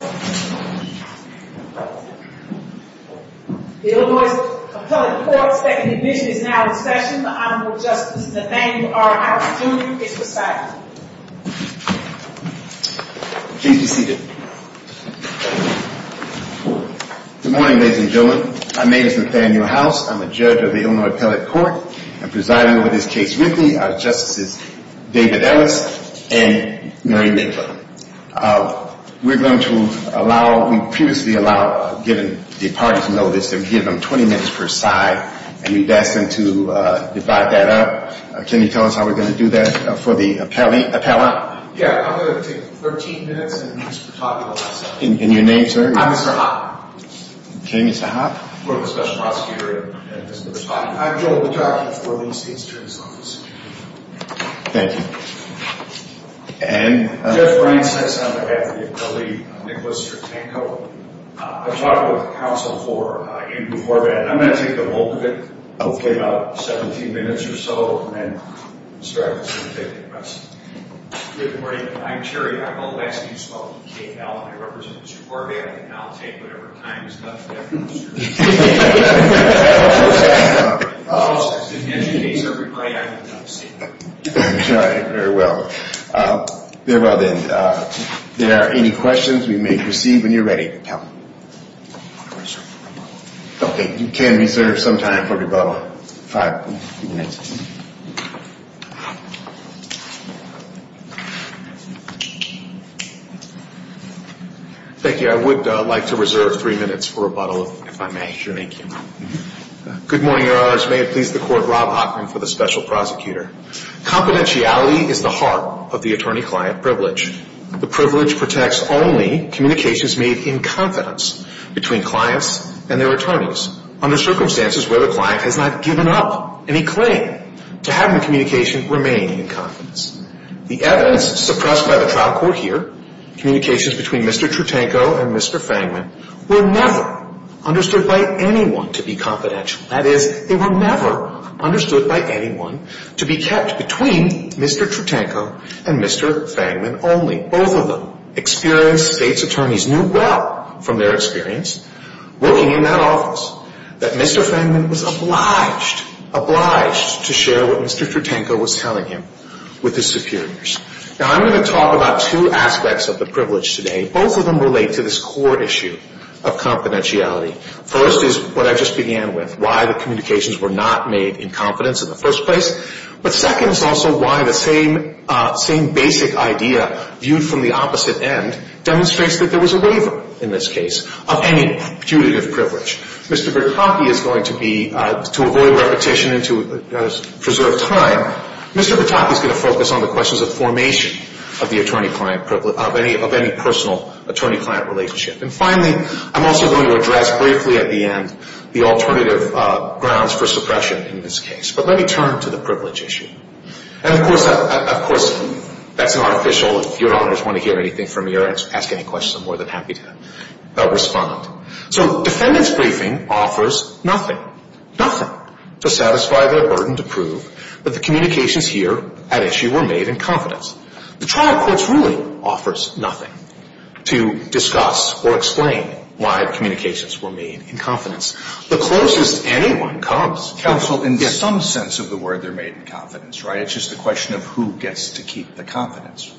The Illinois Appellate Court's second division is now in session. The Honorable Justice Nathaniel R. Howard Jr. is presiding. Please be seated. Good morning, ladies and gentlemen. My name is Nathaniel House. I'm a judge of the Illinois Appellate Court. I'm presiding over this case with me are Justices David Ellis and Mary Midler. We're going to allow, we previously allowed, given the parties' notice, that we give them 20 minutes per side, and we've asked them to divide that up. Can you tell us how we're going to do that for the appellate? Yeah, I'm going to take 13 minutes and Mr. Tocco will answer. And your name, sir? I'm Mr. Hoppe. Okay, Mr. Hoppe. We're with the special prosecutor and Mr. Tocco. I'm Joel Tocco for Lee State's Attorney's Office. Thank you. And? Jeff Brines on behalf of the appellate Nicholas Trutenko. I've talked with counsel for Andrew Corbat, and I'm going to take the bulk of it. Okay. About 17 minutes or so, and then Mr. Harris is going to take the rest. Good morning. I'm Terry. I'm the last name spoken, K-L, and I represent Mr. Corbat, and I'll take whatever time is left. All right. Very well. Very well, then. If there are any questions we may proceed when you're ready. Okay. You can reserve some time for rebuttal. Five minutes. Thank you. I would like to reserve three minutes for rebuttal, if I may. Sure. Thank you. Good morning, Your Honors. May it please the Court, Rob Hoffman for the special prosecutor. Confidentiality is the heart of the attorney-client privilege. The privilege protects only communications made in confidence between clients and their attorneys under circumstances where the client has not given up any claim. To have the communication remain in confidence. The evidence suppressed by the trial court here, communications between Mr. Tritanko and Mr. Fangman, were never understood by anyone to be confidential. That is, they were never understood by anyone to be kept between Mr. Tritanko and Mr. Fangman only. Both of them experienced states' attorneys knew well from their experience working in that office that Mr. Fangman was obliged, obliged to share what Mr. Tritanko was telling him with his superiors. Now, I'm going to talk about two aspects of the privilege today. Both of them relate to this core issue of confidentiality. First is what I just began with, why the communications were not made in confidence in the first place. But second is also why the same basic idea viewed from the opposite end Mr. Bertocchi is going to be, to avoid repetition and to preserve time, Mr. Bertocchi is going to focus on the questions of formation of the attorney-client privilege, of any personal attorney-client relationship. And finally, I'm also going to address briefly at the end the alternative grounds for suppression in this case. But let me turn to the privilege issue. And of course, that's not official. If Your Honors want to hear anything from me or ask any questions, I'm more than happy to respond. So defendant's briefing offers nothing, nothing to satisfy their burden to prove that the communications here at issue were made in confidence. The trial courts really offers nothing to discuss or explain why communications were made in confidence. The closest anyone comes. Counsel, in some sense of the word, they're made in confidence, right? It's just a question of who gets to keep the confidence.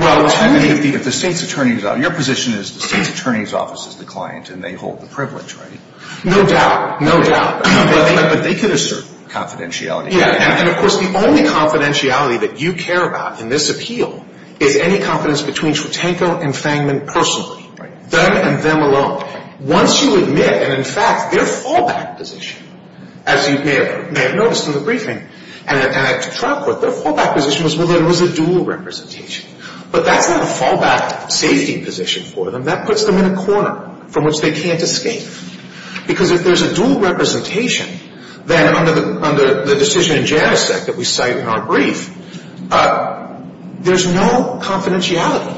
Your position is the state's attorney's office is the client and they hold the privilege, right? No doubt. No doubt. But they could assert confidentiality. Yeah. And of course, the only confidentiality that you care about in this appeal is any confidence between Schutanko and Fangman personally. Right. Them and them alone. Once you admit, and in fact, their fallback position, as you may have noticed in the briefing, and at the trial court, their fallback position was whether it was a dual representation. But that's not a fallback safety position for them. That puts them in a corner from which they can't escape. Because if there's a dual representation, then under the decision in Janicek that we cite in our brief, there's no confidentiality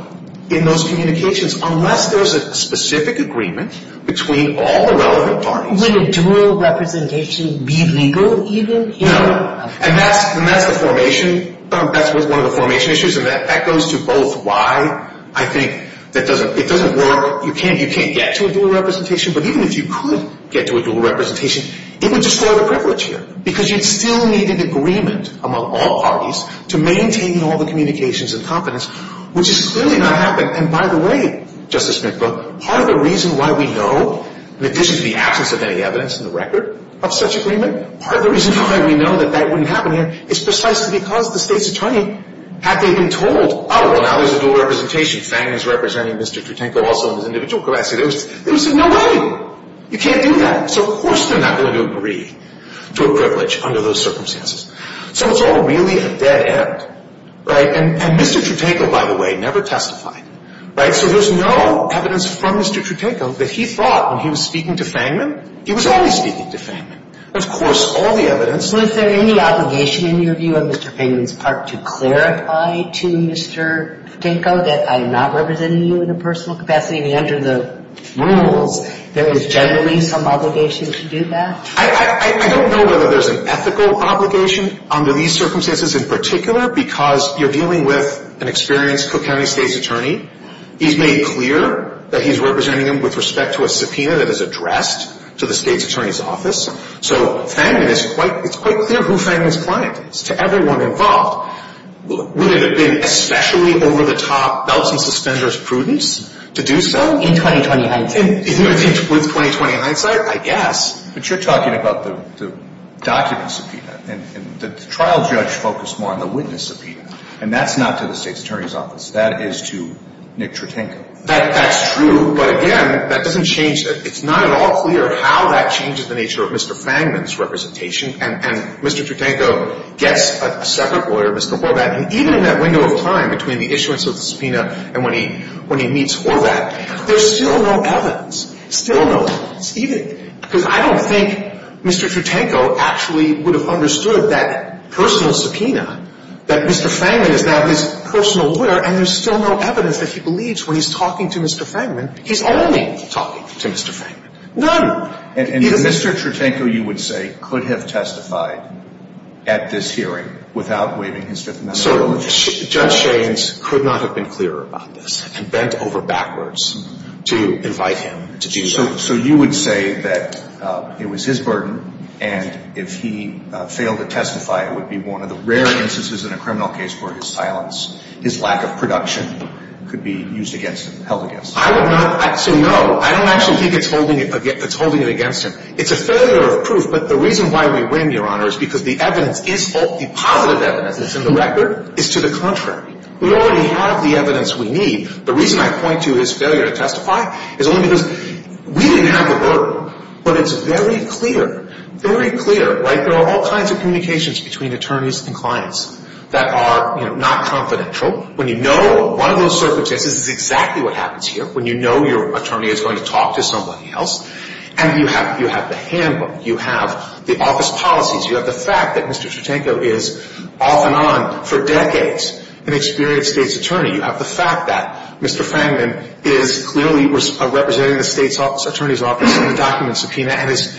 in those communications unless there's a specific agreement between all the relevant parties. Would a dual representation be legal even? No. And that's the formation. That's one of the formation issues. And that echoes to both why I think it doesn't work. You can't get to a dual representation. But even if you could get to a dual representation, it would destroy the privilege here. Because you'd still need an agreement among all parties to maintain all the communications and confidence, which has clearly not happened. And by the way, Justice Smithbrook, part of the reason why we know, in addition to the absence of any evidence in the record of such agreement, part of the reason why we know that that wouldn't happen here is precisely because the State's Attorney, had they been told, oh, well, now there's a dual representation. Fang is representing Mr. Tritanko also in his individual capacity. There was no way. You can't do that. So of course they're not going to agree to a privilege under those circumstances. So it's all really a dead end. And Mr. Tritanko, by the way, never testified. So there's no evidence from Mr. Tritanko that he thought when he was speaking to Fangman, he was only speaking to Fangman. Of course, all the evidence. Well, is there any obligation in your view of Mr. Fangman's part to clarify to Mr. Tritanko that I am not representing you in a personal capacity and under the rules, there is generally some obligation to do that? I don't know whether there's an ethical obligation under these circumstances in particular because you're dealing with an experienced Cook County State's Attorney. He's made clear that he's representing him with respect to a subpoena that is addressed to the State's Attorney's office. So Fangman is quite – it's quite clear who Fangman's client is to everyone involved. Would it have been especially over-the-top belts and suspenders prudence to do so? In 2020 hindsight. With 2020 hindsight, I guess. But you're talking about the document subpoena. And the trial judge focused more on the witness subpoena. And that's not to the State's Attorney's office. That is to Nick Tritanko. That's true. But again, that doesn't change – it's not at all clear how that changes the nature of Mr. Fangman's representation. And Mr. Tritanko gets a separate lawyer, Mr. Horvat. And even in that window of time between the issuance of the subpoena and when he meets Horvat, there's still no evidence. Still no evidence. Because I don't think Mr. Tritanko actually would have understood that personal subpoena, that Mr. Fangman is now his personal lawyer and there's still no evidence that he believes when he's talking to Mr. Fangman. He's only talking to Mr. Fangman. None. And Mr. Tritanko, you would say, could have testified at this hearing without waiving his Fifth Amendment? Certainly. Judge Shaines could not have been clearer about this and bent over backwards to invite him to do that. So you would say that it was his burden and if he failed to testify, it would be one of the rare instances in a criminal case where his silence, his lack of production, could be used against him, held against him. I would not – so no, I don't actually think it's holding it against him. It's a failure of proof, but the reason why we win, Your Honor, is because the evidence is – the positive evidence that's in the record is to the contrary. We already have the evidence we need. The reason I point to his failure to testify is only because we didn't have the burden, but it's very clear, very clear, right? There are all kinds of communications between attorneys and clients that are, you know, not confidential. When you know one of those circumstances is exactly what happens here, when you know your attorney is going to talk to somebody else, and you have the handbook, you have the office policies, you have the fact that Mr. Tritanko is off and on for decades an experienced state's attorney. You have the fact that Mr. Fangman is clearly representing the state's attorney's office in the document subpoena and is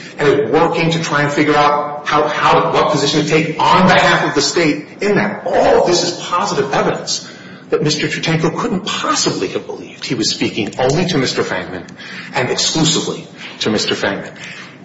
working to try and figure out how – what position to take on behalf of the state in that. All of this is positive evidence that Mr. Tritanko couldn't possibly have believed. He was speaking only to Mr. Fangman and exclusively to Mr. Fangman.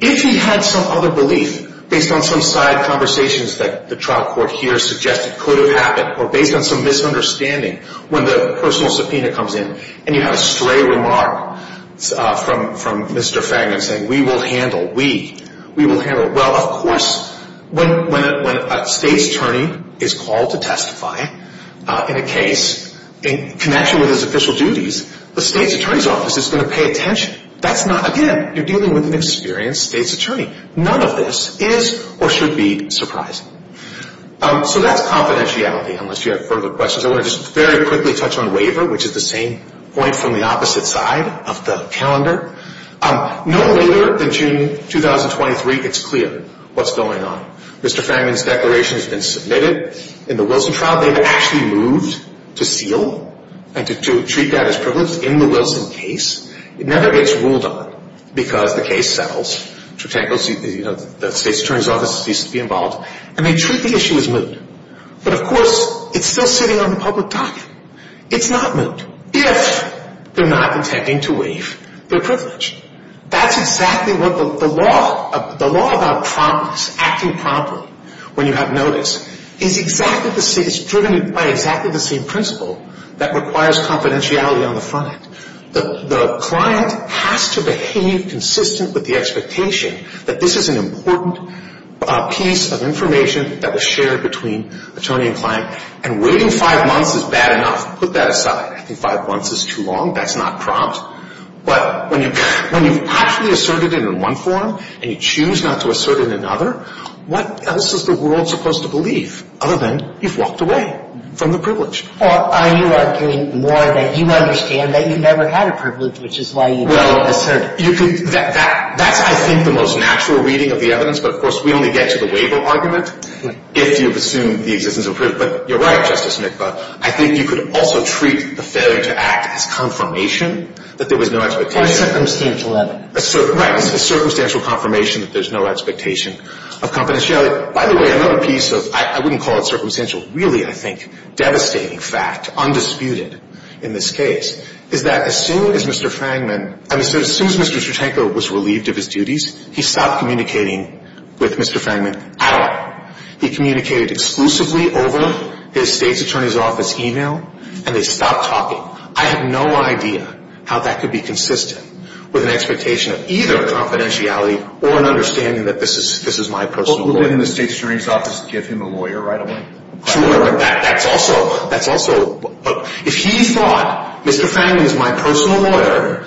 If he had some other belief based on some side conversations that the trial court here suggested could have happened or based on some misunderstanding when the personal subpoena comes in and you have a stray remark from Mr. Fangman saying, we will handle, we, we will handle. Well, of course, when a state's attorney is called to testify in a case in connection with his official duties, the state's attorney's office is going to pay attention. That's not – again, you're dealing with an experienced state's attorney. None of this is or should be surprising. So that's confidentiality, unless you have further questions. I want to just very quickly touch on waiver, which is the same point from the opposite side of the calendar. No later than June 2023 gets clear what's going on. Mr. Fangman's declaration has been submitted in the Wilson trial. They've actually moved to seal and to treat that as privilege in the Wilson case. It never gets ruled on because the case settles. The state's attorney's office needs to be involved. And they treat the issue as moot. But, of course, it's still sitting on the public docket. It's not moot if they're not intending to waive their privilege. That's exactly what the law, the law about promptness, acting promptly when you have notice, is exactly the same – it's driven by exactly the same principle that requires confidentiality on the front end. The client has to behave consistent with the expectation that this is an important piece of information that was shared between attorney and client. And waiting five months is bad enough. Put that aside. I think five months is too long. That's not prompt. But when you've actually asserted it in one form and you choose not to assert it in another, what else is the world supposed to believe other than you've walked away from the privilege? Or are you arguing more that you understand that you never had a privilege, which is why you don't assert it? Well, you could – that's, I think, the most natural reading of the evidence. But, of course, we only get to the waiver argument if you've assumed the existence of privilege. But you're right, Justice Mitbaugh. I think you could also treat the failure to act as confirmation that there was no expectation. Or circumstantial evidence. Right. It's a circumstantial confirmation that there's no expectation of confidentiality. By the way, another piece of – I wouldn't call it circumstantial. Really, I think, devastating fact, undisputed in this case, is that as soon as Mr. Frangman – I mean, as soon as Mr. Strutenko was relieved of his duties, he stopped communicating with Mr. Frangman at all. He communicated exclusively over his state's attorney's office email, and they stopped talking. I have no idea how that could be consistent with an expectation of either confidentiality or an understanding that this is my personal lawyer. But within the state's attorney's office, give him a lawyer right away. Sure, but that's also – if he thought Mr. Frangman is my personal lawyer,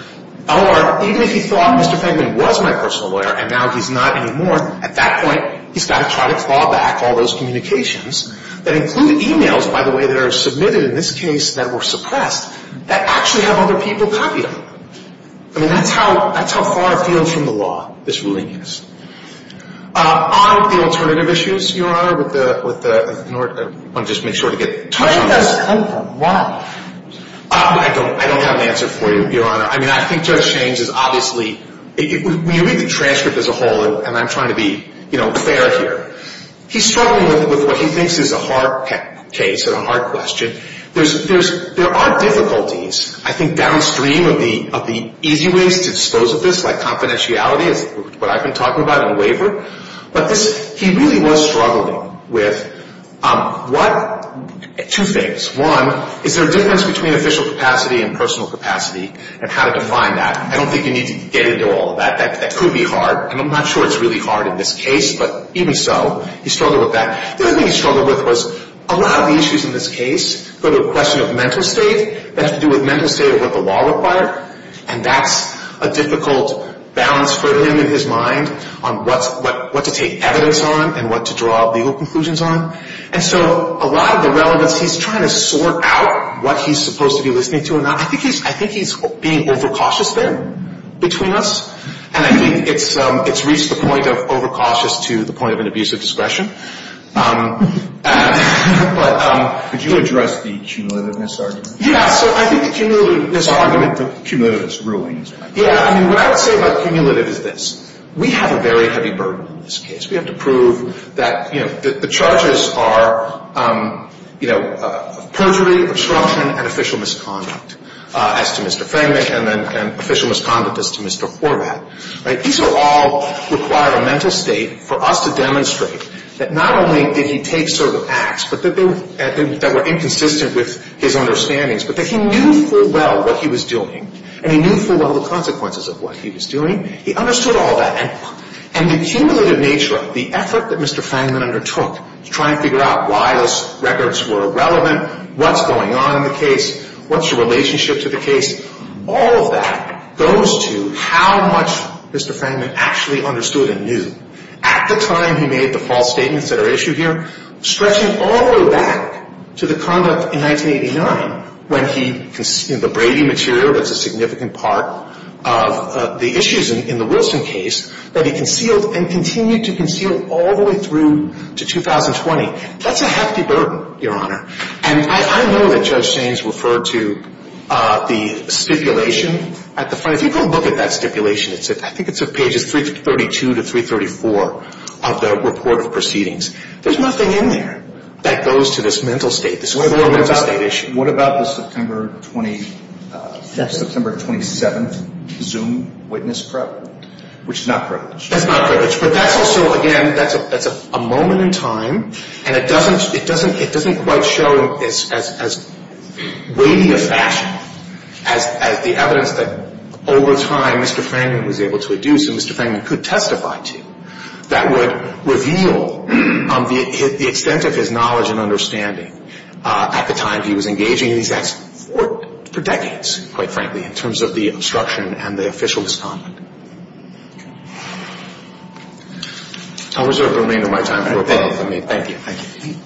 or even if he thought Mr. Frangman was my personal lawyer and now he's not anymore, at that point he's got to try to claw back all those communications that include emails, by the way, that are submitted in this case that were suppressed that actually have other people copy them. I mean, that's how far afield from the law this ruling is. On the alternative issues, Your Honor, with the – I want to just make sure to get touch on this. Why? I don't have an answer for you, Your Honor. I mean, I think Judge Shaines is obviously – when you read the transcript as a whole, and I'm trying to be fair here, he's struggling with what he thinks is a hard case and a hard question. There are difficulties, I think, downstream of the easy ways to dispose of this, like confidentiality is what I've been talking about in the waiver. But this – he really was struggling with what – two things. One, is there a difference between official capacity and personal capacity and how to define that? I don't think you need to get into all of that. That could be hard, and I'm not sure it's really hard in this case, but even so, he struggled with that. The other thing he struggled with was a lot of the issues in this case go to a question of mental state. That has to do with mental state of what the law required, and that's a difficult balance for him in his mind on what to take evidence on and what to draw legal conclusions on. And so a lot of the relevance, he's trying to sort out what he's supposed to be listening to or not. I think he's being overcautious there between us, and I think it's reached the point of overcautious to the point of an abuse of discretion. But – Could you address the cumulative misargument? Yeah. So I think the cumulative misargument – The cumulative misrulings. Yeah. I mean, what I would say about cumulative is this. We have a very heavy burden in this case. We have to prove that, you know, the charges are, you know, perjury, obstruction, and official misconduct as to Mr. Frangman, and then official misconduct as to Mr. Horvath. Right? These all require a mental state for us to demonstrate that not only did he take certain acts, but that they were inconsistent with his understandings, but that he knew full well what he was doing, and he knew full well the consequences of what he was doing. He understood all that, and the cumulative nature of it, the effort that Mr. Frangman undertook to try and figure out why those records were irrelevant, what's going on in the case, what's your relationship to the case, all of that goes to how much Mr. Frangman actually understood and knew at the time he made the false statements that are issued here, stretching all the way back to the conduct in 1989 when he – you know, the Brady material that's a significant part of the issues in the Wilson case that he concealed and continued to conceal all the way through to 2020. That's a hefty burden, Your Honor. And I know that Judge Sainz referred to the stipulation at the front. If you go look at that stipulation, I think it's at pages 332 to 334 of the report of proceedings. There's nothing in there that goes to this mental state. This is a full mental state issue. What about the September 27th Zoom witness probe, which is not privileged? That's not privileged, but that's also, again, that's a moment in time, and it doesn't quite show as weighty a fashion as the evidence that over time Mr. Frangman was able to reduce and Mr. Frangman could testify to that would reveal the extent of his knowledge and understanding at the time he was engaging in these acts for decades, quite frankly, in terms of the obstruction and the official respondent. I'll reserve the remainder of my time for a panel. Thank you. Thank you.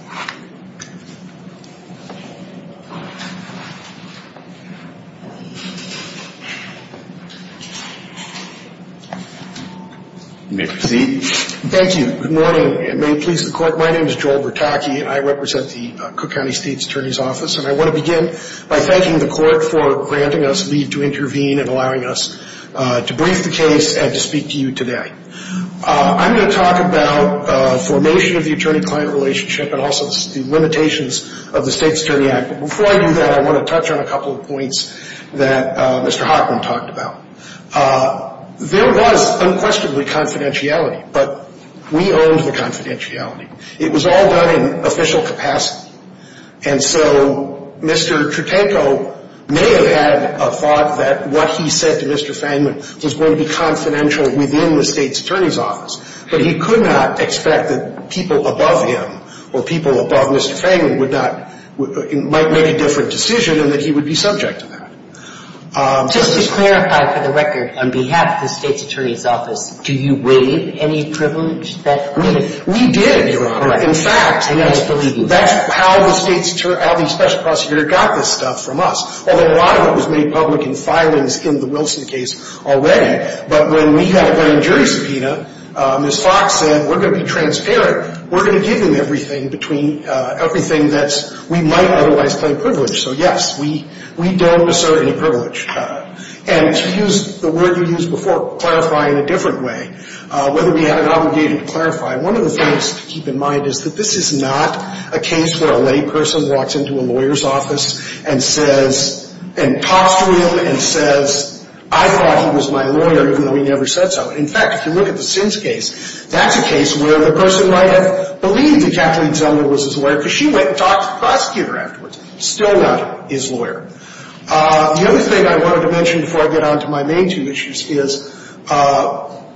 You may proceed. Thank you. Good morning. May it please the Court. My name is Joel Bertocchi, and I represent the Cook County State's Attorney's Office, and I want to begin by thanking the Court for granting us leave to intervene and allowing us to brief the case and to speak to you today. I'm going to talk about formation of the attorney-client relationship and also the limitations of the State's Attorney Act. But before I do that, I want to touch on a couple of points that Mr. Hochman talked about. There was unquestionably confidentiality, but we owned the confidentiality. It was all done in official capacity, and so Mr. Tritanko may have had a thought that what he said to Mr. Frangman was going to be confidential within the State's Attorney's Office, but he could not expect that people above him or people above Mr. Frangman would not, might make a different decision and that he would be subject to that. Just to clarify, for the record, on behalf of the State's Attorney's Office, do you waive any privilege? We did. In fact, that's how the special prosecutor got this stuff from us, although a lot of it was made public in filings in the Wilson case already. But when we had a grand jury subpoena, Ms. Fox said, we're going to be transparent, we're going to give them everything between everything that we might otherwise claim privilege. So, yes, we don't assert any privilege. And to use the word you used before, clarify in a different way, whether we had an obligation to clarify, one of the things to keep in mind is that this is not a case where a layperson walks into a lawyer's office and says, and talks to him and says, I thought he was my lawyer even though he never said so. In fact, if you look at the Sims case, that's a case where the person might have believed that Kathleen Zellner was his lawyer because she went and talked to the prosecutor afterwards. Still not his lawyer. The other thing I wanted to mention before I get on to my main two issues is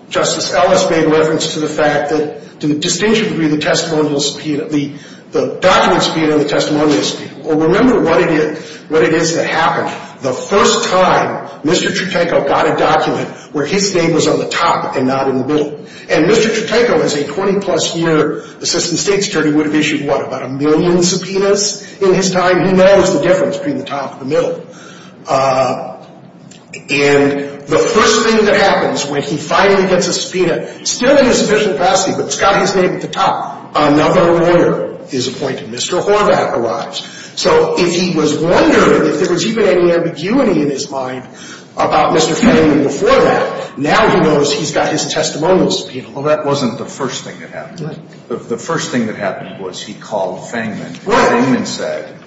Justice Ellis made reference to the fact that, to a distinctive degree, the testimonial subpoena, the document subpoena and the testimonial subpoena. Well, remember what it is that happened. The first time Mr. Tritanko got a document where his name was on the top and not in the middle. And Mr. Tritanko as a 20-plus year assistant state attorney would have issued, what, about a million subpoenas in his time. He knows the difference between the top and the middle. And the first thing that happens when he finally gets a subpoena, still in a sufficient capacity, but it's got his name at the top, another lawyer is appointed. Mr. Horvath arrives. So if he was wondering if there was even any ambiguity in his mind about Mr. Fennigan before that, now he knows he's got his testimonial subpoena. Well, that wasn't the first thing that happened. Right. The first thing that happened was he called Fangman. Right. Fangman said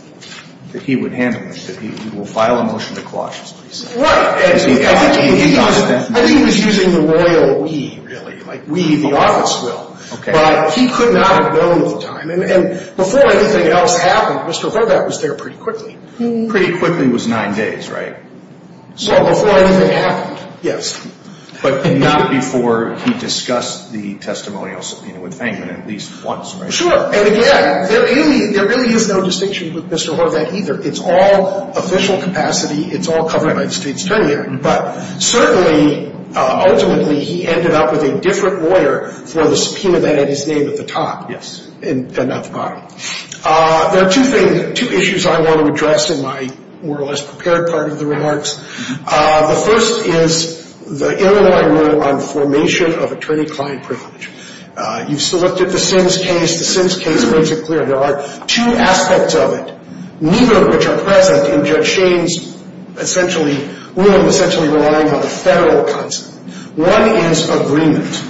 that he would handle this, that he will file a motion to clause this. Right. I think he was using the royal we, really, like we the office will. Okay. But he could not have known at the time. And before anything else happened, Mr. Horvath was there pretty quickly. Pretty quickly was nine days, right? Well, before anything happened, yes. But not before he discussed the testimonial subpoena with Fangman at least once, right? Sure. And, again, there really is no distinction with Mr. Horvath either. It's all official capacity. It's all covered by the state's attorney. But certainly, ultimately, he ended up with a different lawyer for the subpoena that had his name at the top. Yes. And not the bottom. There are two issues I want to address in my more or less prepared part of the remarks. The first is the interline rule on formation of attorney-client privilege. You've looked at the Sims case. The Sims case makes it clear there are two aspects of it, neither of which are present in Judge Shane's essentially rule, essentially relying on the federal concept. One is agreement.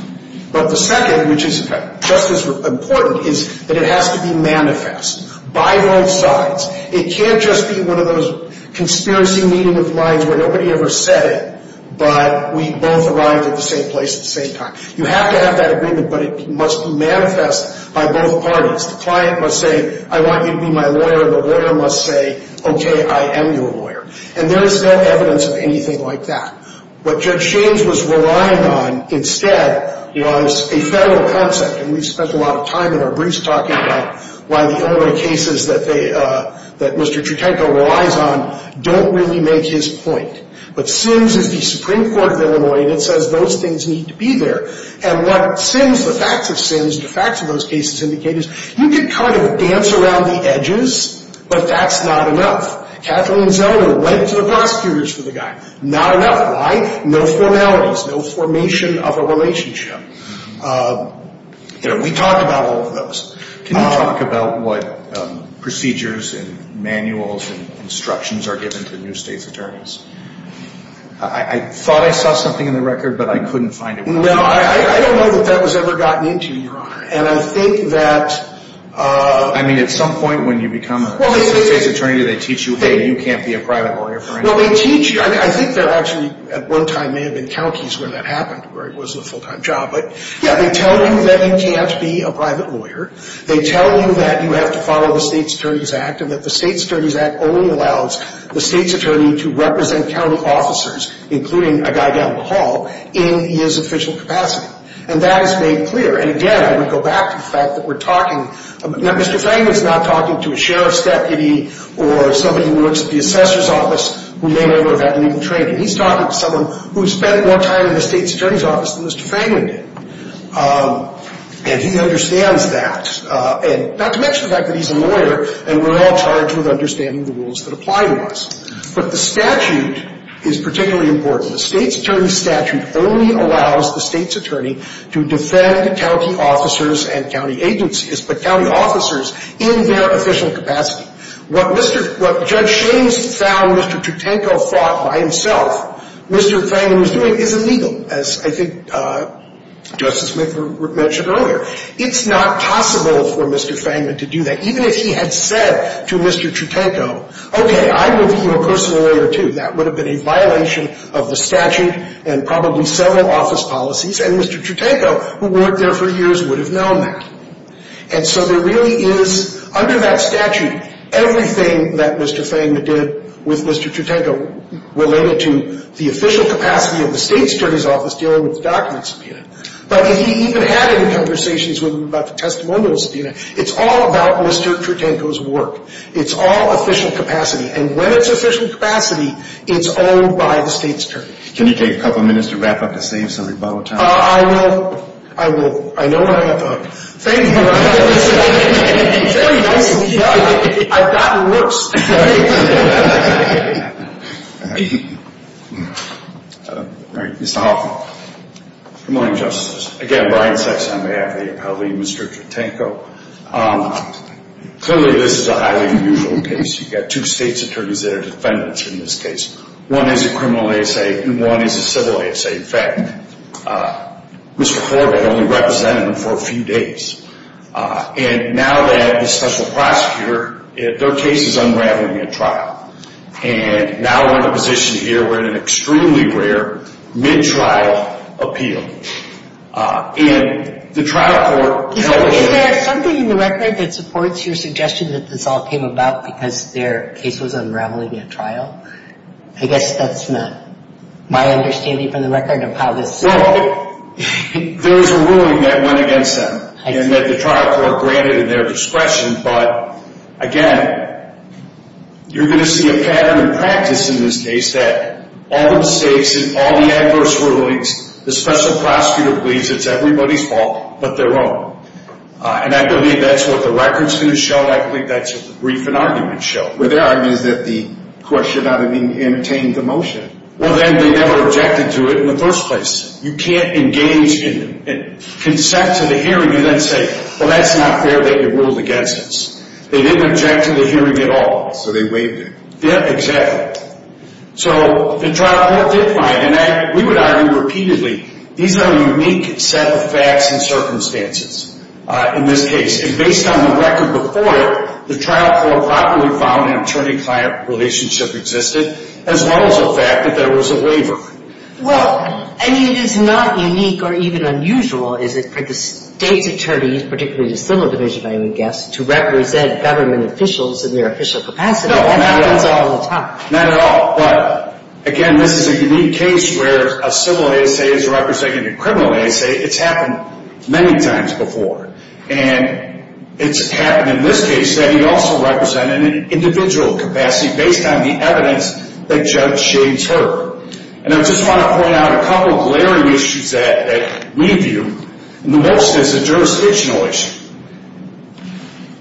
But the second, which is just as important, is that it has to be manifest by both sides. It can't just be one of those conspiracy meeting of lines where nobody ever said it, but we both arrived at the same place at the same time. You have to have that agreement, but it must be manifest by both parties. The client must say, I want you to be my lawyer, and the lawyer must say, okay, I am your lawyer. And there is no evidence of anything like that. What Judge Shane's was relying on instead was a federal concept. And we spent a lot of time in our briefs talking about why the only cases that Mr. Tritenko relies on don't really make his point. But Sims is the Supreme Court of Illinois, and it says those things need to be there. And what Sims, the facts of Sims, the facts of those cases indicate is you can kind of dance around the edges, but that's not enough. Kathleen Zellner went to the prosecutors for the guy. Not enough. Why? No formalities. No formation of a relationship. We talked about all of those. Can you talk about what procedures and manuals and instructions are given to new state's attorneys? I thought I saw something in the record, but I couldn't find it. No, I don't know that that was ever gotten into you, Your Honor. And I think that — I mean, at some point when you become a new state's attorney, do they teach you, hey, you can't be a private lawyer for anything? No, they teach you. I mean, I think there actually at one time may have been counties where that happened, where it was a full-time job. But, yeah, they tell you that you can't be a private lawyer. They tell you that you have to follow the State's Attorney's Act and that the State's Attorney's Act only allows the state's attorney to represent county officers, including a guy down the hall, in his official capacity. And that is made clear. And, again, I want to go back to the fact that we're talking — Mr. Fangman's not talking to a sheriff's deputy or somebody who works at the assessor's office who may never have had legal training. He's talking to someone who's spent more time in the State's Attorney's Office than Mr. Fangman did. And he understands that. And not to mention the fact that he's a lawyer, and we're all charged with understanding the rules that apply to us. But the statute is particularly important. The State's Attorney's Statute only allows the state's attorney to defend county officers and county agencies. But county officers in their official capacity. What Judge Shames found Mr. Tritanko fought by himself, Mr. Fangman was doing, is illegal, as I think Justice McGurk mentioned earlier. It's not possible for Mr. Fangman to do that. Even if he had said to Mr. Tritanko, okay, I will be your personal lawyer, too, that would have been a violation of the statute and probably several office policies. And Mr. Tritanko, who worked there for years, would have known that. And so there really is, under that statute, everything that Mr. Fangman did with Mr. Tritanko related to the official capacity of the State's Attorney's Office dealing with the documents subpoenaed. But if he even had any conversations with him about the testimonials subpoenaed, it's all about Mr. Tritanko's work. It's all official capacity. And when it's official capacity, it's owned by the State's Attorney. Can you take a couple minutes to wrap up to save some rebuttal time? I will. I will. I know I have the hook. Fangman, I have the hook. Very nice of you. I've gotten worse. Mr. Hoffman. Good morning, Justices. Again, Brian Sexton on behalf of the appellee and Mr. Tritanko. Clearly, this is a highly unusual case. You've got two State's Attorneys that are defendants in this case. One is a criminal ASA and one is a civil ASA. And, in fact, Mr. Horvath only represented them for a few days. And now that the special prosecutor, their case is unraveling at trial. And now we're in a position here where an extremely rare mid-trial appeal. And the trial court – Is there something in the record that supports your suggestion that this all came about because their case was unraveling at trial? I guess that's not my understanding from the record of how this – Well, there is a ruling that went against them. I see. And that the trial court granted in their discretion. But, again, you're going to see a pattern in practice in this case that all the mistakes and all the adverse rulings, the special prosecutor believes it's everybody's fault but their own. And I believe that's what the record's going to show. I believe that's what the brief and argument show. But their argument is that the court should not have entertained the motion. Well, then they never objected to it in the first place. You can't engage in – consent to the hearing and then say, well, that's not fair that you ruled against us. They didn't object to the hearing at all. So they waived it. Yeah, exactly. So the trial court did find, and we would argue repeatedly, these are a unique set of facts and circumstances in this case. And based on the record before it, the trial court properly found an attorney-client relationship existed, as well as the fact that there was a waiver. Well, I mean, it is not unique or even unusual, is it, for the state's attorneys, particularly the civil division, I would guess, to represent government officials in their official capacity. No, not at all. That happens all the time. Not at all. But, again, this is a unique case where a civil ASA is representing a criminal ASA. It's happened many times before. And it's happened in this case that he also represented an individual capacity based on the evidence that Judge Shades heard. And I just want to point out a couple of glaring issues that we view, and the most is a jurisdictional issue.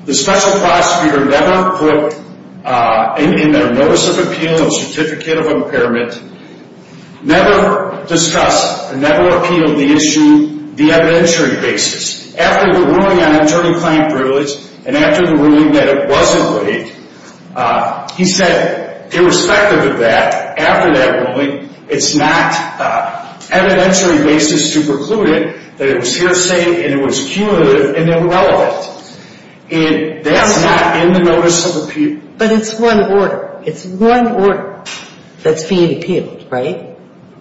The special prosecutor never put in their notice of appeal a certificate of impairment, never discussed or never appealed the issue the evidentiary basis. After the ruling on attorney-client privilege and after the ruling that it wasn't rigged, he said, irrespective of that, after that ruling, it's not evidentiary basis to preclude it, that it was hearsay and it was cumulative and irrelevant. And that's not in the notice of appeal. But it's one order. It's one order that's being appealed, right?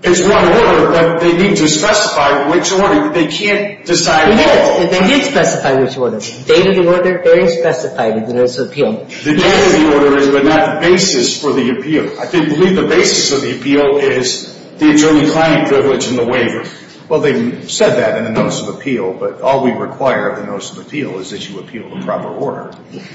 It's one order, but they need to specify which order. They can't decide all. They need to specify which order. The date of the order is specified in the notice of appeal. The date of the order is, but not the basis for the appeal. I believe the basis of the appeal is the attorney-client privilege and the waiver. Well, they said that in the notice of appeal, but all we require of the notice of appeal is that you appeal the proper order.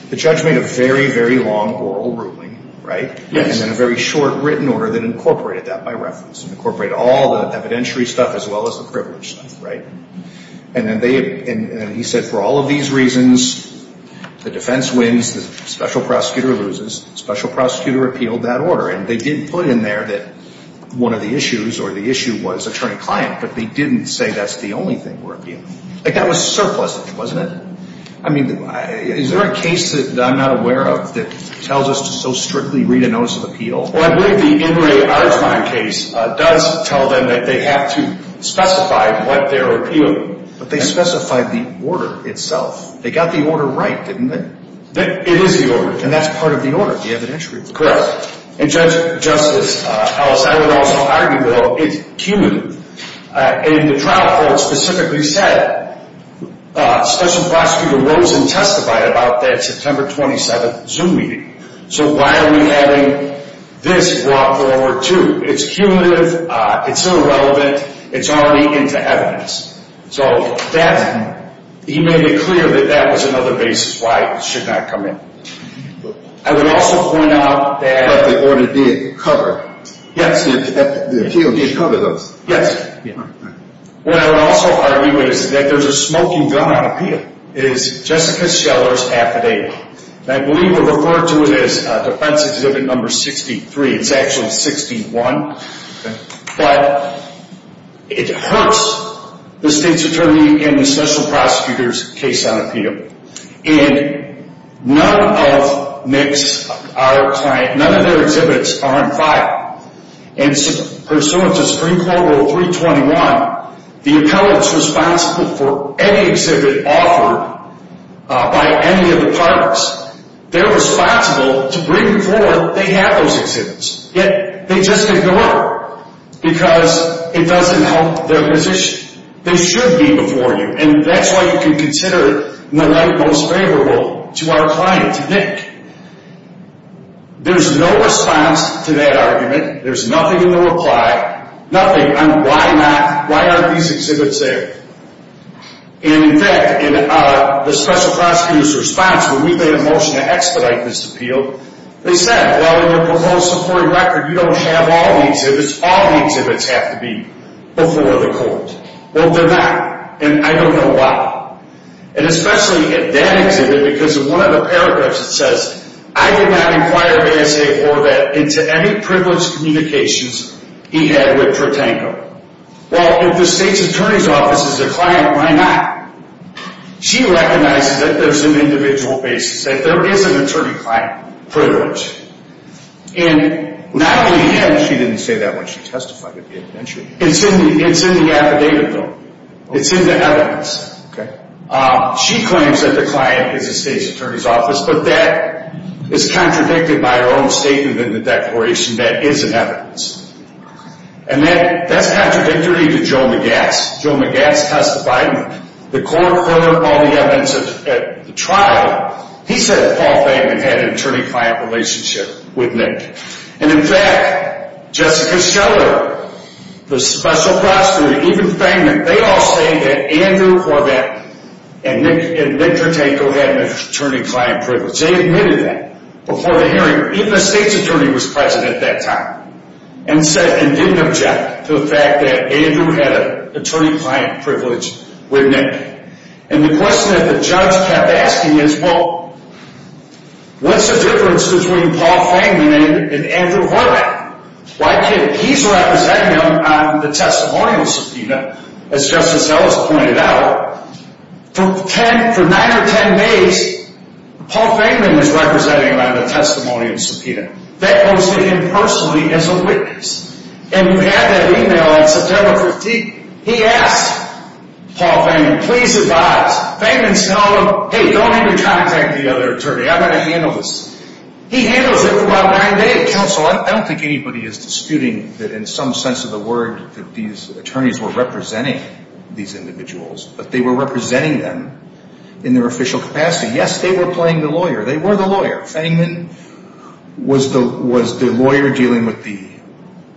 The judge made a very, very long oral ruling, right? Yes. And then a very short written order that incorporated that by reference, incorporated all the evidentiary stuff as well as the privilege stuff, right? And then he said for all of these reasons, the defense wins, the special prosecutor loses, special prosecutor appealed that order. And they did put in there that one of the issues or the issue was attorney-client, but they didn't say that's the only thing we're appealing. Like, that was surplusage, wasn't it? I mean, is there a case that I'm not aware of that tells us to so strictly read a notice of appeal? Well, I believe the Ingray-Argiman case does tell them that they have to specify what they're appealing. But they specified the order itself. They got the order right, didn't they? It is the order, and that's part of the order, the evidentiary. Correct. And, Judge, Justice Ellis, I would also argue, though, it's cumulative. And the trial court specifically said special prosecutor Rosen testified about that September 27th Zoom meeting. So why are we having this brought forward, too? It's cumulative. It's irrelevant. It's already into evidence. So he made it clear that that was another basis why it should not come in. I would also point out that— But the order did cover. Yes. The appeal did cover those. Yes. What I would also argue is that there's a smoking gun on appeal. It is Jessica Scheller's affidavit. And I believe we'll refer to it as defense exhibit number 63. It's actually 61. But it hurts the state's attorney and the special prosecutor's case on appeal. And none of their exhibits are on file. And pursuant to Supreme Court Rule 321, the appellants responsible for any exhibit offered by any of the parties, they're responsible to bring before they have those exhibits. Yet they just ignore it because it doesn't help their position. They should be before you. And that's why you can consider it in the light most favorable to our client, to Nick. There's no response to that argument. There's nothing in the reply. Nothing. Why not? Why aren't these exhibits there? And, in fact, in the special prosecutor's response, when we made a motion to expedite this appeal, they said, well, in your proposed Supreme Court record, you don't have all the exhibits. All the exhibits have to be before the court. Well, they're not. And I don't know why. And especially in that exhibit because in one of the paragraphs it says, I did not inquire of A.S.A. Horvath into any privileged communications he had with Tritanko. Well, if the state's attorney's office is a client, why not? She recognizes that there's an individual basis, that there is an attorney-client privilege. And not only him. She didn't say that when she testified at the adventure. It's in the affidavit, though. It's in the evidence. Okay. She claims that the client is the state's attorney's office, but that is contradicted by her own statement in the declaration. That is in evidence. And that's contradictory to Joe Magatz. Joe Magatz testified. The court heard all the evidence at the trial. He said Paul Feigman had an attorney-client relationship with Nick. And, in fact, Jessica Scheller, the special prosecutor, even Feigman, they all say that Andrew Horvath and Nick Tritanko had an attorney-client privilege. They admitted that before the hearing. Even the state's attorney was present at that time. And didn't object to the fact that Andrew had an attorney-client privilege with Nick. And the question that the judge kept asking is, well, what's the difference between Paul Feigman and Andrew Horvath? Well, I kid you not. He's representing him on the testimonial subpoena, as Justice Ellis pointed out. For nine or ten days, Paul Feigman was representing him on the testimonial subpoena. That goes to him personally as a witness. And we had that e-mail on September 15th. He asked Paul Feigman, please advise. Feigman's telling him, hey, don't even contact the other attorney. I'm going to handle this. He handles it for about nine days. Counsel, I don't think anybody is disputing that in some sense of the word that these attorneys were representing these individuals. But they were representing them in their official capacity. Yes, they were playing the lawyer. They were the lawyer. Feigman was the lawyer dealing with the,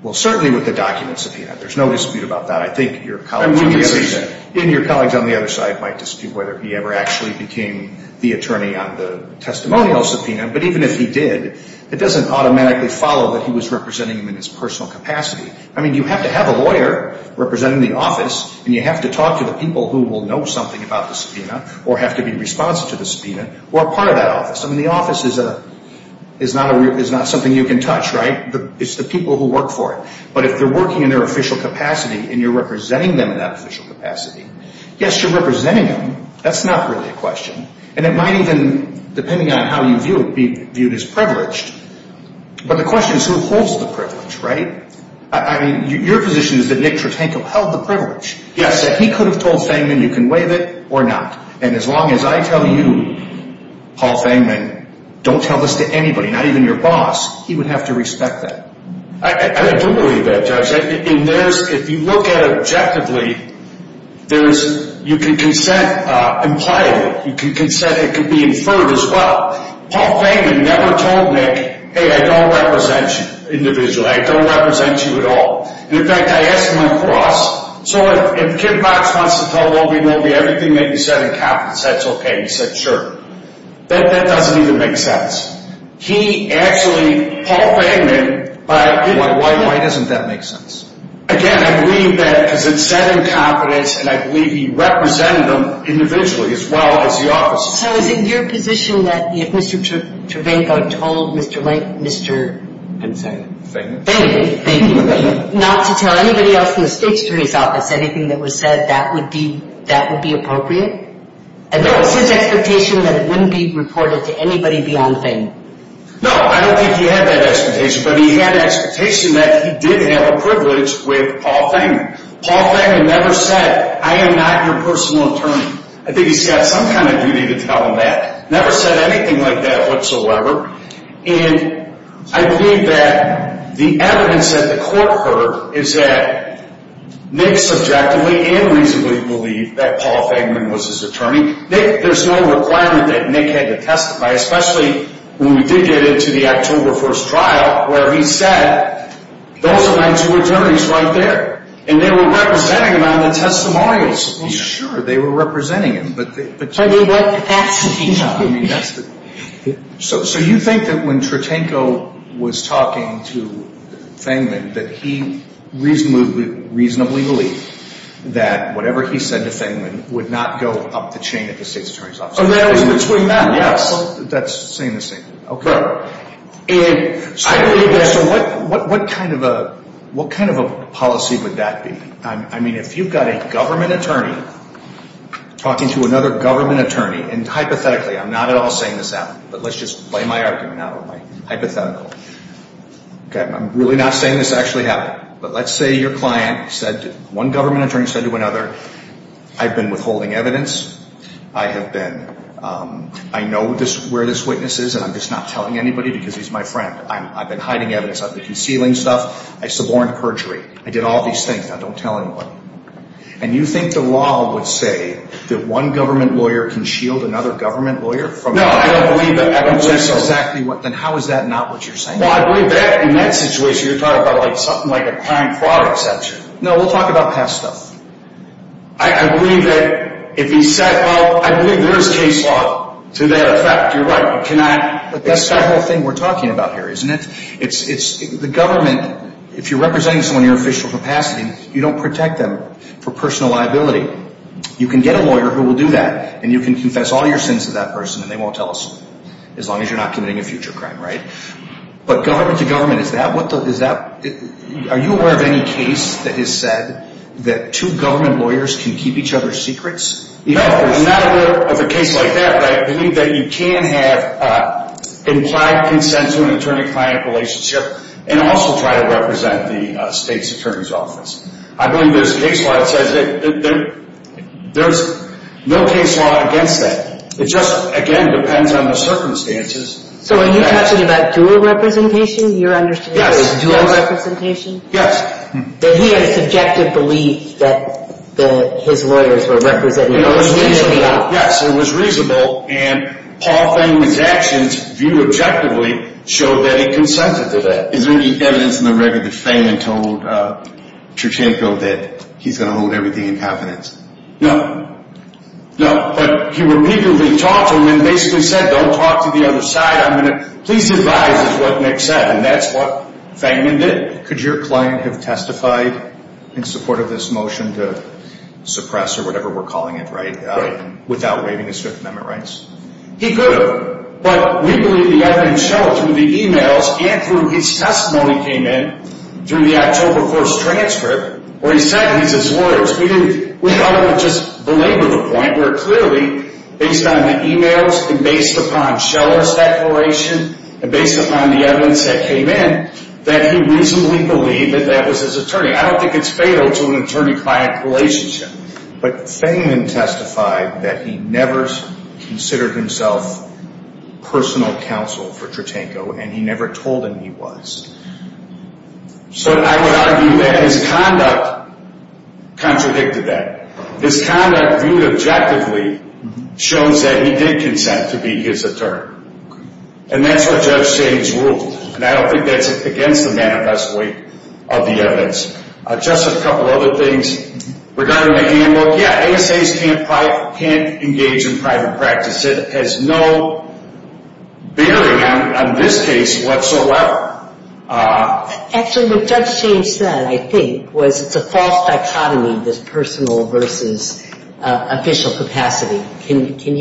well, certainly with the document subpoena. There's no dispute about that. I think your colleagues on the other side might dispute whether he ever actually became the attorney on the testimonial subpoena. But even if he did, it doesn't automatically follow that he was representing him in his personal capacity. I mean, you have to have a lawyer representing the office, and you have to talk to the people who will know something about the subpoena or have to be responsive to the subpoena who are part of that office. I mean, the office is not something you can touch, right? It's the people who work for it. But if they're working in their official capacity and you're representing them in that official capacity, yes, you're representing them. That's not really a question. And it might even, depending on how you view it, be viewed as privileged. But the question is who holds the privilege, right? I mean, your position is that Nick Tritanko held the privilege. Yes. That he could have told Feigman you can waive it or not. And as long as I tell you, Paul Feigman, don't tell this to anybody, not even your boss, he would have to respect that. I don't believe that, Judge. If you look at it objectively, you can consent impliedly. You can consent it could be inferred as well. Paul Feigman never told Nick, hey, I don't represent you individually. I don't represent you at all. And, in fact, I asked him across. So if Kim Box wants to tell Wobie Nobie everything that you said in confidence, that's okay. He said, sure. That doesn't even make sense. He actually, Paul Feigman, by giving it to him. Why doesn't that make sense? Again, I believe that because it's said in confidence, and I believe he represented them individually as well as the officers. So is it your position that if Mr. Tritanko told Mr. Feigman not to tell anybody else in the State's Attorney's Office anything that was said, that would be appropriate? No. And that was his expectation that it wouldn't be reported to anybody beyond Feigman. No, I don't think he had that expectation. But he had the expectation that he did have a privilege with Paul Feigman. Paul Feigman never said, I am not your personal attorney. I think he's got some kind of duty to tell him that. Never said anything like that whatsoever. And I believe that the evidence that the court heard is that Nick subjectively and reasonably believed that Paul Feigman was his attorney. There's no requirement that Nick had to testify, especially when we did get into the October 1st trial where he said, those are my two attorneys right there. And they were representing him on the testimonials. Well, sure, they were representing him. I mean, what capacity? So you think that when Tritanko was talking to Feigman that he reasonably believed that whatever he said to Feigman would not go up the chain at the State's Attorney's Office? Between that, yes. That's saying the same thing. Okay. And I believe that. So what kind of a policy would that be? I mean, if you've got a government attorney talking to another government attorney, and hypothetically, I'm not at all saying this out, but let's just lay my argument out hypothetically. I'm really not saying this actually happened. But let's say your client said, one government attorney said to another, I've been withholding evidence. I have been, I know where this witness is, and I'm just not telling anybody because he's my friend. I've been hiding evidence. I've been concealing stuff. I suborned perjury. I did all these things. Now don't tell anyone. And you think the law would say that one government lawyer can shield another government lawyer? No, I don't believe that. Then how is that not what you're saying? Well, I believe that in that situation you're talking about something like a crime fraud exception. No, we'll talk about past stuff. I believe that if he said, well, I believe there is case law to that effect. You're right. But that's not the whole thing we're talking about here, isn't it? The government, if you're representing someone in your official capacity, you don't protect them for personal liability. You can get a lawyer who will do that, and you can confess all your sins to that person, and they won't tell us as long as you're not committing a future crime, right? But government to government, is that, what the, is that, are you aware of any case that has said that two government lawyers can keep each other's secrets? No, I'm not aware of a case like that. But I believe that you can have implied consent to an attorney-client relationship and also try to represent the state's attorney's office. I believe there's a case law that says, there's no case law against that. It just, again, depends on the circumstances. So are you talking about dual representation? Yes. Dual representation? Yes. That he had a subjective belief that his lawyers were representing the state? Yes, it was reasonable, and Paul Feynman's actions, viewed objectively, showed that he consented to that. Is there any evidence in the record that Feynman told Cherchenko that he's going to hold everything in confidence? No. No, but he repeatedly talked to him and basically said, don't talk to the other side, I'm going to, please advise, is what Nick said, and that's what Feynman did. Could your client have testified in support of this motion to suppress, or whatever we're calling it, right? Right. Without waiving his Fifth Amendment rights? He could have, but we believe the evidence showed through the e-mails and through his testimony came in, through the October 1st transcript, where he said in his words, we ought to just belabor the point where clearly, based on the e-mails and based upon Scheller's declaration and based upon the evidence that came in, that he reasonably believed that that was his attorney. I don't think it's fatal to an attorney-client relationship. But Feynman testified that he never considered himself personal counsel for Cherchenko, and he never told him he was. So I would argue that his conduct contradicted that. His conduct, viewed objectively, shows that he did consent to be his attorney. And that's what Judge James ruled. And I don't think that's against the manifesto weight of the evidence. Just a couple other things. Regarding the handbook, yeah, ASAs can't engage in private practice. It has no bearing on this case whatsoever. Actually, what Judge James said, I think, was it's a false dichotomy, this personal versus official capacity. Can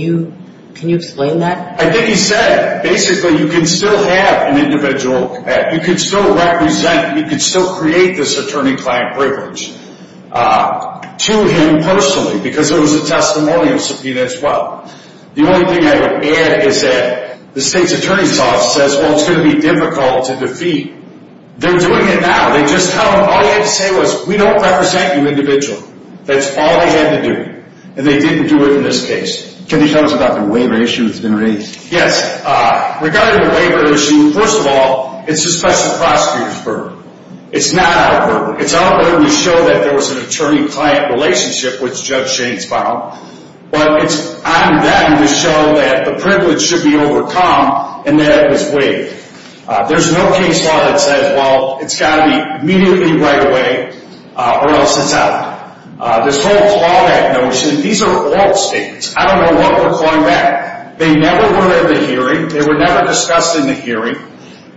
you explain that? I think he said basically you can still have an individual, you can still represent, you can still create this attorney-client privilege to him personally because it was a testimonial subpoena as well. The only thing I would add is that the state's attorney's office says, well, it's going to be difficult to defeat. They're doing it now. All he had to say was, we don't represent you individually. That's all they had to do. And they didn't do it in this case. Can you tell us about the waiver issue that's been raised? Yes. Regarding the waiver issue, first of all, it's a special prosecutor's burden. It's not our burden. It's our burden to show that there was an attorney-client relationship, which Judge James found. But it's on them to show that the privilege should be overcome and that it was waived. There's no case law that says, well, it's got to be immediately right away or else it's out. This whole clawback notion, these are oral statements. I don't know what we're clawing back. They never were in the hearing. They were never discussed in the hearing.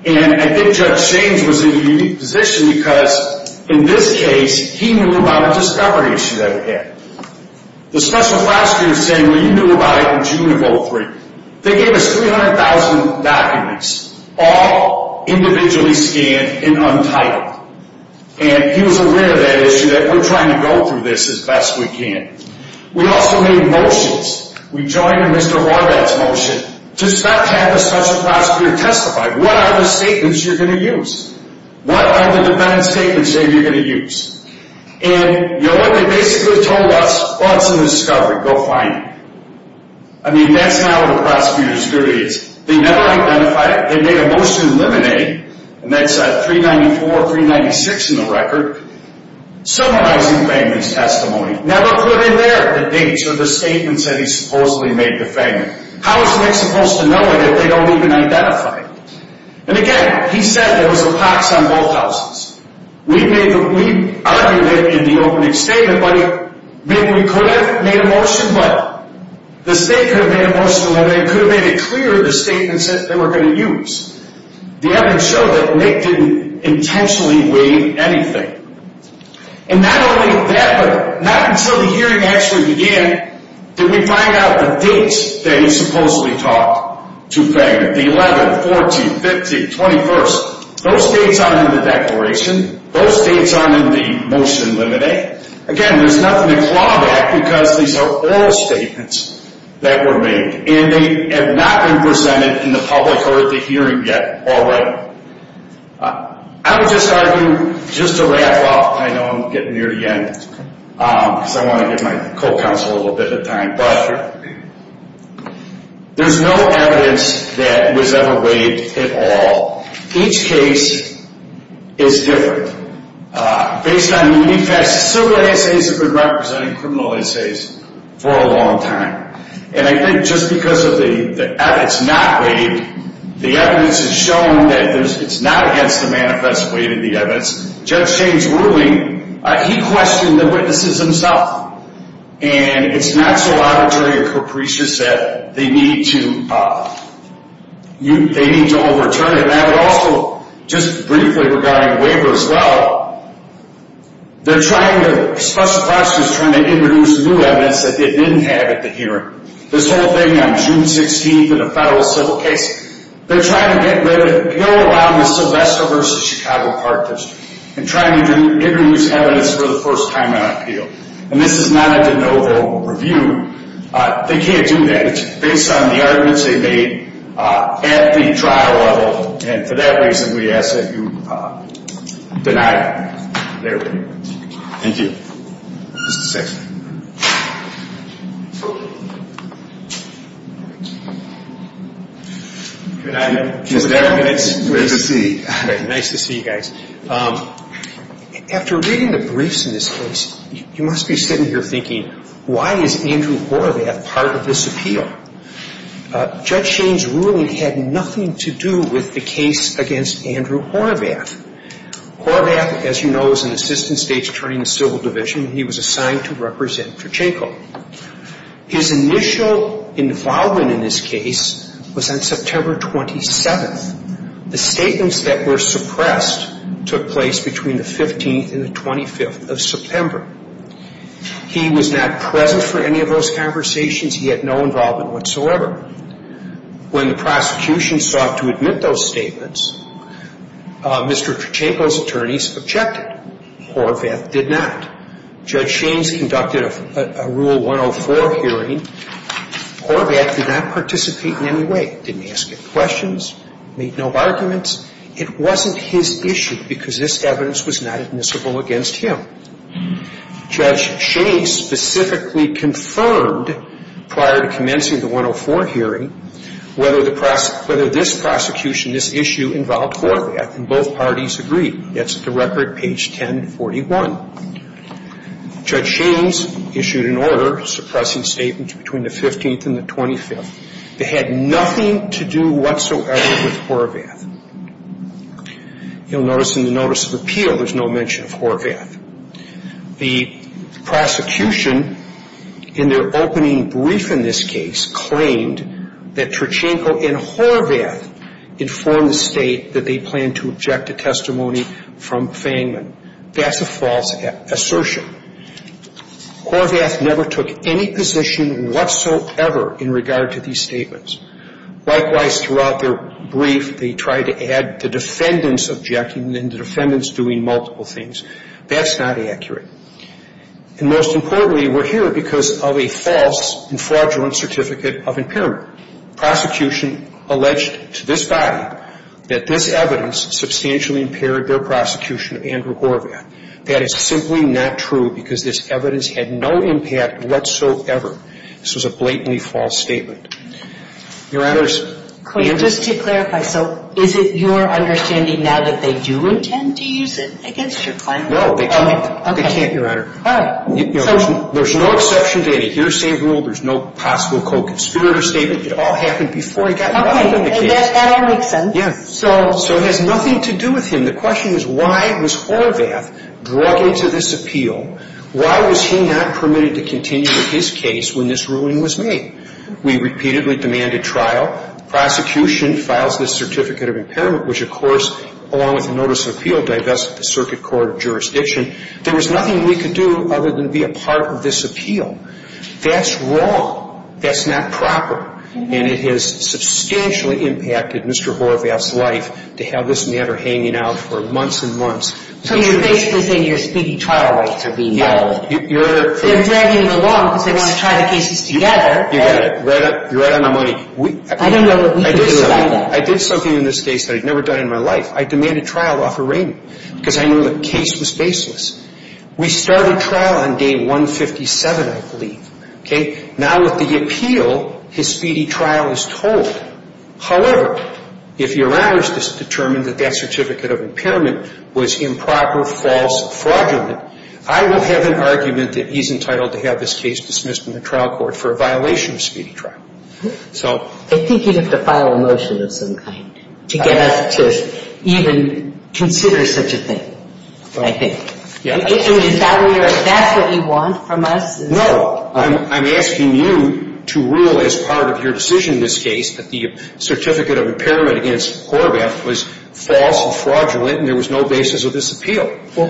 And I think Judge James was in a unique position because, in this case, he knew about a discovery issue that we had. The special prosecutor was saying, well, you knew about it in June of 2003. They gave us 300,000 documents, all individually scanned and untitled. And he was aware of that issue, that we're trying to go through this as best we can. We also made motions. We joined in Mr. Horvath's motion to stop having a special prosecutor testify. What are the statements you're going to use? What are the defendant's statements that you're going to use? And, you know what, they basically told us, well, it's a discovery. Go find it. I mean, that's not what a prosecutor's duty is. They never identified it. They made a motion to eliminate, and that's 394, 396 in the record, summarizing Langley's testimony. Never put in there the dates or the statements that he supposedly made the defendant. How is Nick supposed to know it if they don't even identify it? And, again, he said there was a pox on both houses. We argued it in the opening statement, but maybe we could have made a motion. But the state could have made a motion to eliminate, could have made it clear the statements that they were going to use. The evidence showed that Nick didn't intentionally waive anything. And not only that, but not until the hearing actually began did we find out the dates that he supposedly talked to the defendant, the 11th, 14th, 15th, 21st. Those dates aren't in the declaration. Those dates aren't in the motion to eliminate. Again, there's nothing to claw back because these are oral statements that were made, and they have not been presented in the public court at the hearing yet already. I would just argue, just to wrap up, and I know I'm getting near the end because I want to give my co-counsel a little bit of time, but there's no evidence that was ever waived at all. Each case is different. Based on unique facts, civil liaisons have been representing criminal liaisons for a long time. And I think just because it's not waived, the evidence has shown that it's not against the manifest weight of the evidence. Judge Shane's ruling, he questioned the witnesses himself. And it's not so arbitrary or capricious that they need to overturn it. And I would also, just briefly regarding waiver as well, they're trying to, special prosecutors are trying to introduce new evidence that they didn't have at the hearing. This whole thing on June 16th in a federal civil case, they're trying to get rid of it, go around the Sylvester v. Chicago partners and try to introduce evidence for the first time on appeal. And this is not a de novo review. They can't do that. And based on the arguments they made at the trial level, and for that reason we ask that you deny it. There we go. Thank you. Mr. Sixman. Good afternoon. Good afternoon. Nice to see you. Nice to see you guys. After reading the briefs in this case, you must be sitting here thinking, why is Andrew Horovath part of this appeal? Judge Shane's ruling had nothing to do with the case against Andrew Horovath. Horovath, as you know, is an assistant state's attorney in the civil division. He was assigned to represent Cherchenko. His initial involvement in this case was on September 27th. The statements that were suppressed took place between the 15th and the 25th of September. He was not present for any of those conversations. He had no involvement whatsoever. When the prosecution sought to admit those statements, Mr. Cherchenko's attorneys objected. Horovath did not. Judge Shane's conducted a Rule 104 hearing. Horovath did not participate in any way, didn't ask any questions, made no arguments. It wasn't his issue because this evidence was not admissible against him. Judge Shane specifically confirmed prior to commencing the 104 hearing whether this prosecution, this issue involved Horovath, and both parties agreed. That's at the record, page 1041. Judge Shane's issued an order suppressing statements between the 15th and the 25th. They had nothing to do whatsoever with Horovath. You'll notice in the notice of appeal there's no mention of Horovath. The prosecution in their opening brief in this case claimed that Cherchenko and Horovath informed the state that they planned to object to testimony from Fangman. That's a false assertion. Horovath never took any position whatsoever in regard to these statements. Likewise, throughout their brief, they tried to add the defendants objecting and the defendants doing multiple things. That's not accurate. And most importantly, we're here because of a false and fraudulent certificate of impairment. Prosecution alleged to this body that this evidence substantially impaired their prosecution of Andrew Horovath. That is simply not true because this evidence had no impact whatsoever. This was a blatantly false statement. Your Honors. Just to clarify, so is it your understanding now that they do intend to use it against your client? No, they can't. They can't, Your Honor. All right. There's no exception to any hearsay rule. There's no possible co-conspirator statement. It all happened before he got arrested in the case. Okay. That all makes sense. Yeah. So it has nothing to do with him. And the question is, why was Horovath drug into this appeal? Why was he not permitted to continue his case when this ruling was made? We repeatedly demanded trial. Prosecution files this certificate of impairment, which, of course, along with a notice of appeal, divested the Circuit Court of Jurisdiction. There was nothing we could do other than be a part of this appeal. That's wrong. That's not proper. And it has substantially impacted Mr. Horovath's life to have this matter hanging out for months and months. So you're basically saying your speedy trial rights are being violated. Yeah. They're dragging it along because they want to try the cases together. You got it. You're right on my money. I don't know what we can do about that. I did something in this case that I'd never done in my life. I demanded trial off a rating because I knew the case was baseless. We started trial on day 157, I believe. Okay. Now with the appeal, his speedy trial is told. However, if your honor has determined that that certificate of impairment was improper, false, fraudulent, I will have an argument that he's entitled to have this case dismissed in the trial court for a violation of speedy trial. I think you'd have to file a motion of some kind to get us to even consider such a thing, I think. Is that what you want from us? No. I'm asking you to rule as part of your decision in this case that the certificate of impairment against Horvath was false and fraudulent and there was no basis of this appeal.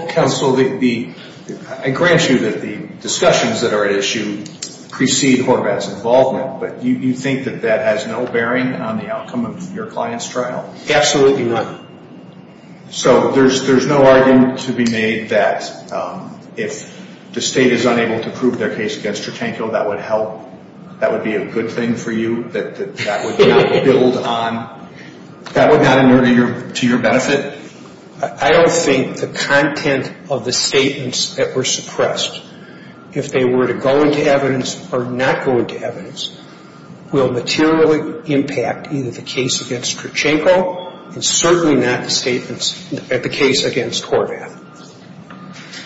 Counsel, I grant you that the discussions that are at issue precede Horvath's involvement, but you think that that has no bearing on the outcome of your client's trial? Absolutely not. So there's no argument to be made that if the state is unable to prove their case against Cherchenko, that would help, that would be a good thing for you, that that would not build on, that would not be to your benefit? I don't think the content of the statements that were suppressed, if they were to go into evidence or not go into evidence, will materially impact either the case against Cherchenko and certainly not the case against Horvath.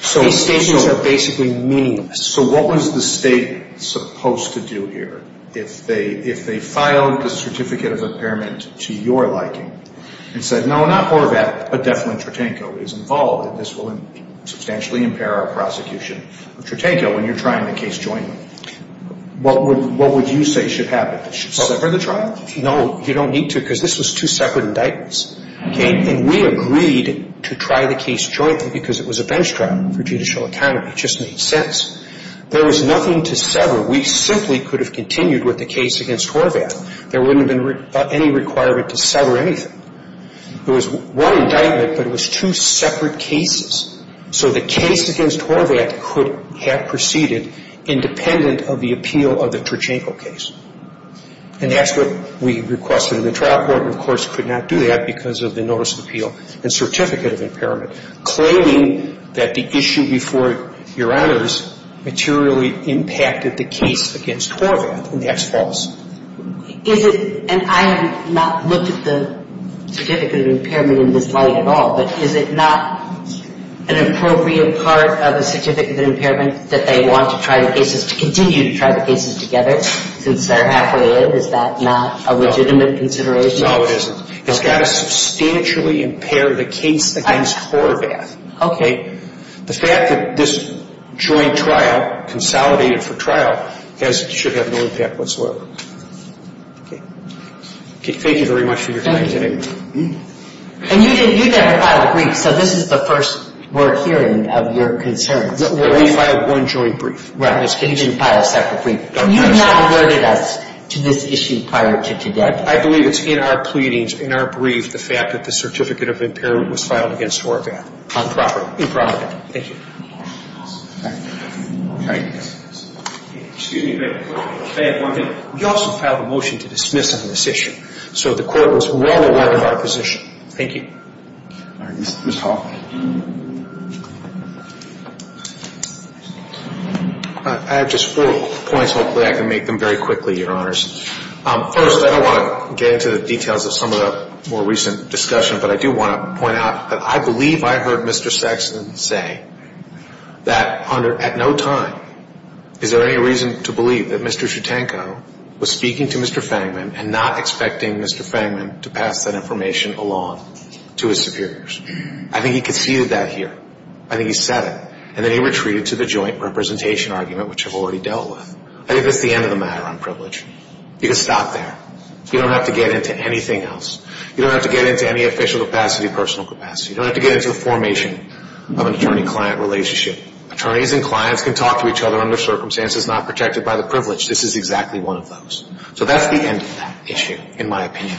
So these statements are basically meaningless. So what was the state supposed to do here if they filed the certificate of impairment to your liking and said, no, not Horvath, but definitely Cherchenko is involved and this will substantially impair our prosecution of Cherchenko when you're trying the case jointly? What would you say should happen? Separate the trial? No, you don't need to because this was two separate indictments. And we agreed to try the case jointly because it was a bench trial for judicial autonomy. It just made sense. There was nothing to sever. We simply could have continued with the case against Horvath. There wouldn't have been any requirement to sever anything. It was one indictment, but it was two separate cases. So the case against Horvath could have proceeded independent of the appeal of the Cherchenko case. And that's what we requested in the trial court and, of course, could not do that because of the notice of appeal and certificate of impairment. And the court, as you know, is not in favor of the case against Horvath. It is in favor of the case against Cherchenko claiming that the issue before your honors materially impacted the case against Horvath, and that's false. Is it and I have not looked at the certificate of impairment in this light at all, but is it not an appropriate part of the certificate of impairment that they want to try the cases to continue to try the cases together since they're halfway in? Is that not a legitimate consideration? No, it isn't. It's got to substantially impair the case against Horvath. Okay. The fact that this joint trial consolidated for trial should have no impact whatsoever. Okay. Thank you very much for your time today. Thank you. And you never filed a brief, so this is the first we're hearing of your concerns. We filed one joint brief. Right. You didn't file a separate brief. You have not alerted us to this issue prior to today. I believe it's in our pleadings, in our brief, the fact that the certificate of impairment was filed against Horvath. Improperly. Improperly. Thank you. All right. All right. Excuse me. I have one thing. We also filed a motion to dismiss on this issue, so the court was well aware of our position. Thank you. All right. Ms. Hoffman. I have just four points. Hopefully I can make them very quickly, Your Honors. First, I don't want to get into the details of some of the more recent discussion, but I do want to point out that I believe I heard Mr. Saxon say that at no time is there any reason to believe that Mr. Chutanko was speaking to Mr. Fangman and not expecting Mr. Fangman to pass that information along to his superiors. I think he conceded that here. I think he said it. And then he retreated to the joint representation argument, which I've already dealt with. I think that's the end of the matter on privilege. You can stop there. You don't have to get into anything else. You don't have to get into any official capacity, personal capacity. You don't have to get into the formation of an attorney-client relationship. Attorneys and clients can talk to each other under circumstances not protected by the privilege. So that's the end of that issue, in my opinion.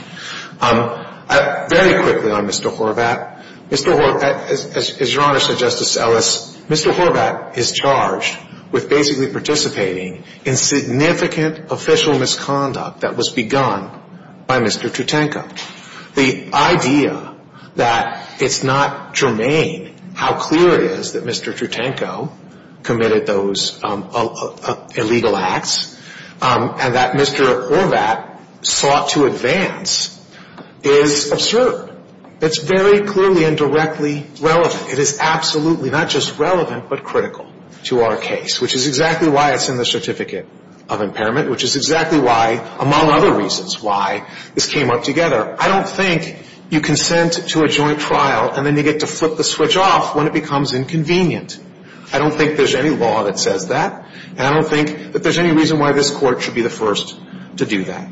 Very quickly on Mr. Horvath. Mr. Horvath, as Your Honor said, Justice Ellis, Mr. Horvath is charged with basically participating in significant official misconduct that was begun by Mr. Chutanko. The idea that it's not germane how clear it is that Mr. Chutanko committed those illegal acts and that Mr. Horvath sought to advance is absurd. It's very clearly and directly relevant. It is absolutely not just relevant but critical to our case, which is exactly why it's in the Certificate of Impairment, which is exactly why, among other reasons why, this came up together. I don't think you consent to a joint trial and then you get to flip the switch off when it becomes inconvenient. I don't think there's any law that says that. And I don't think that there's any reason why this Court should be the first to do that.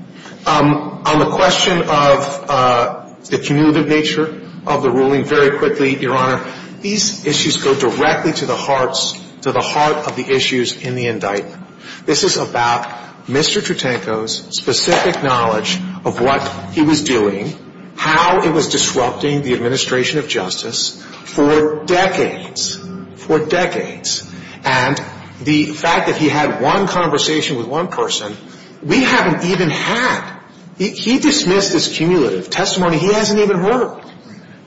On the question of the cumulative nature of the ruling, very quickly, Your Honor, these issues go directly to the hearts, to the heart of the issues in the indictment. This is about Mr. Chutanko's specific knowledge of what he was doing, how it was disrupting the administration of justice for decades, for decades. And the fact that he had one conversation with one person, we haven't even had. He dismissed this cumulative testimony. He hasn't even heard it,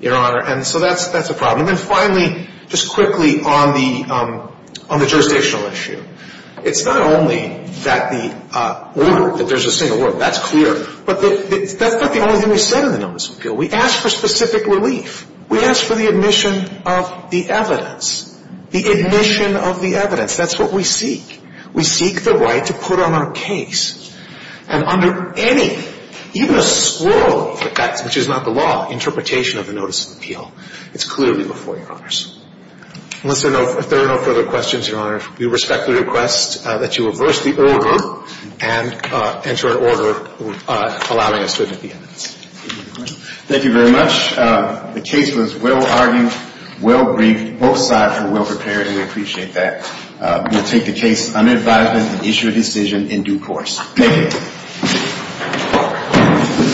Your Honor. And so that's a problem. And then finally, just quickly, on the jurisdictional issue, it's not only that the order, that there's a single word, that's clear, but that's not the only thing we said in the Notice of Appeal. We asked for specific relief. We asked for the admission of the evidence, the admission of the evidence. That's what we seek. We seek the right to put on our case, and under any, even a squirrel, which is not the law, interpretation of the Notice of Appeal. It's clearly before Your Honors. Unless there are no further questions, Your Honor, we respectfully request that you reverse the order and enter an order allowing us to admit the evidence. Thank you very much. The case was well-argued, well-briefed. Both sides were well-prepared, and we appreciate that. We'll take the case under advisement and issue a decision in due course. Thank you.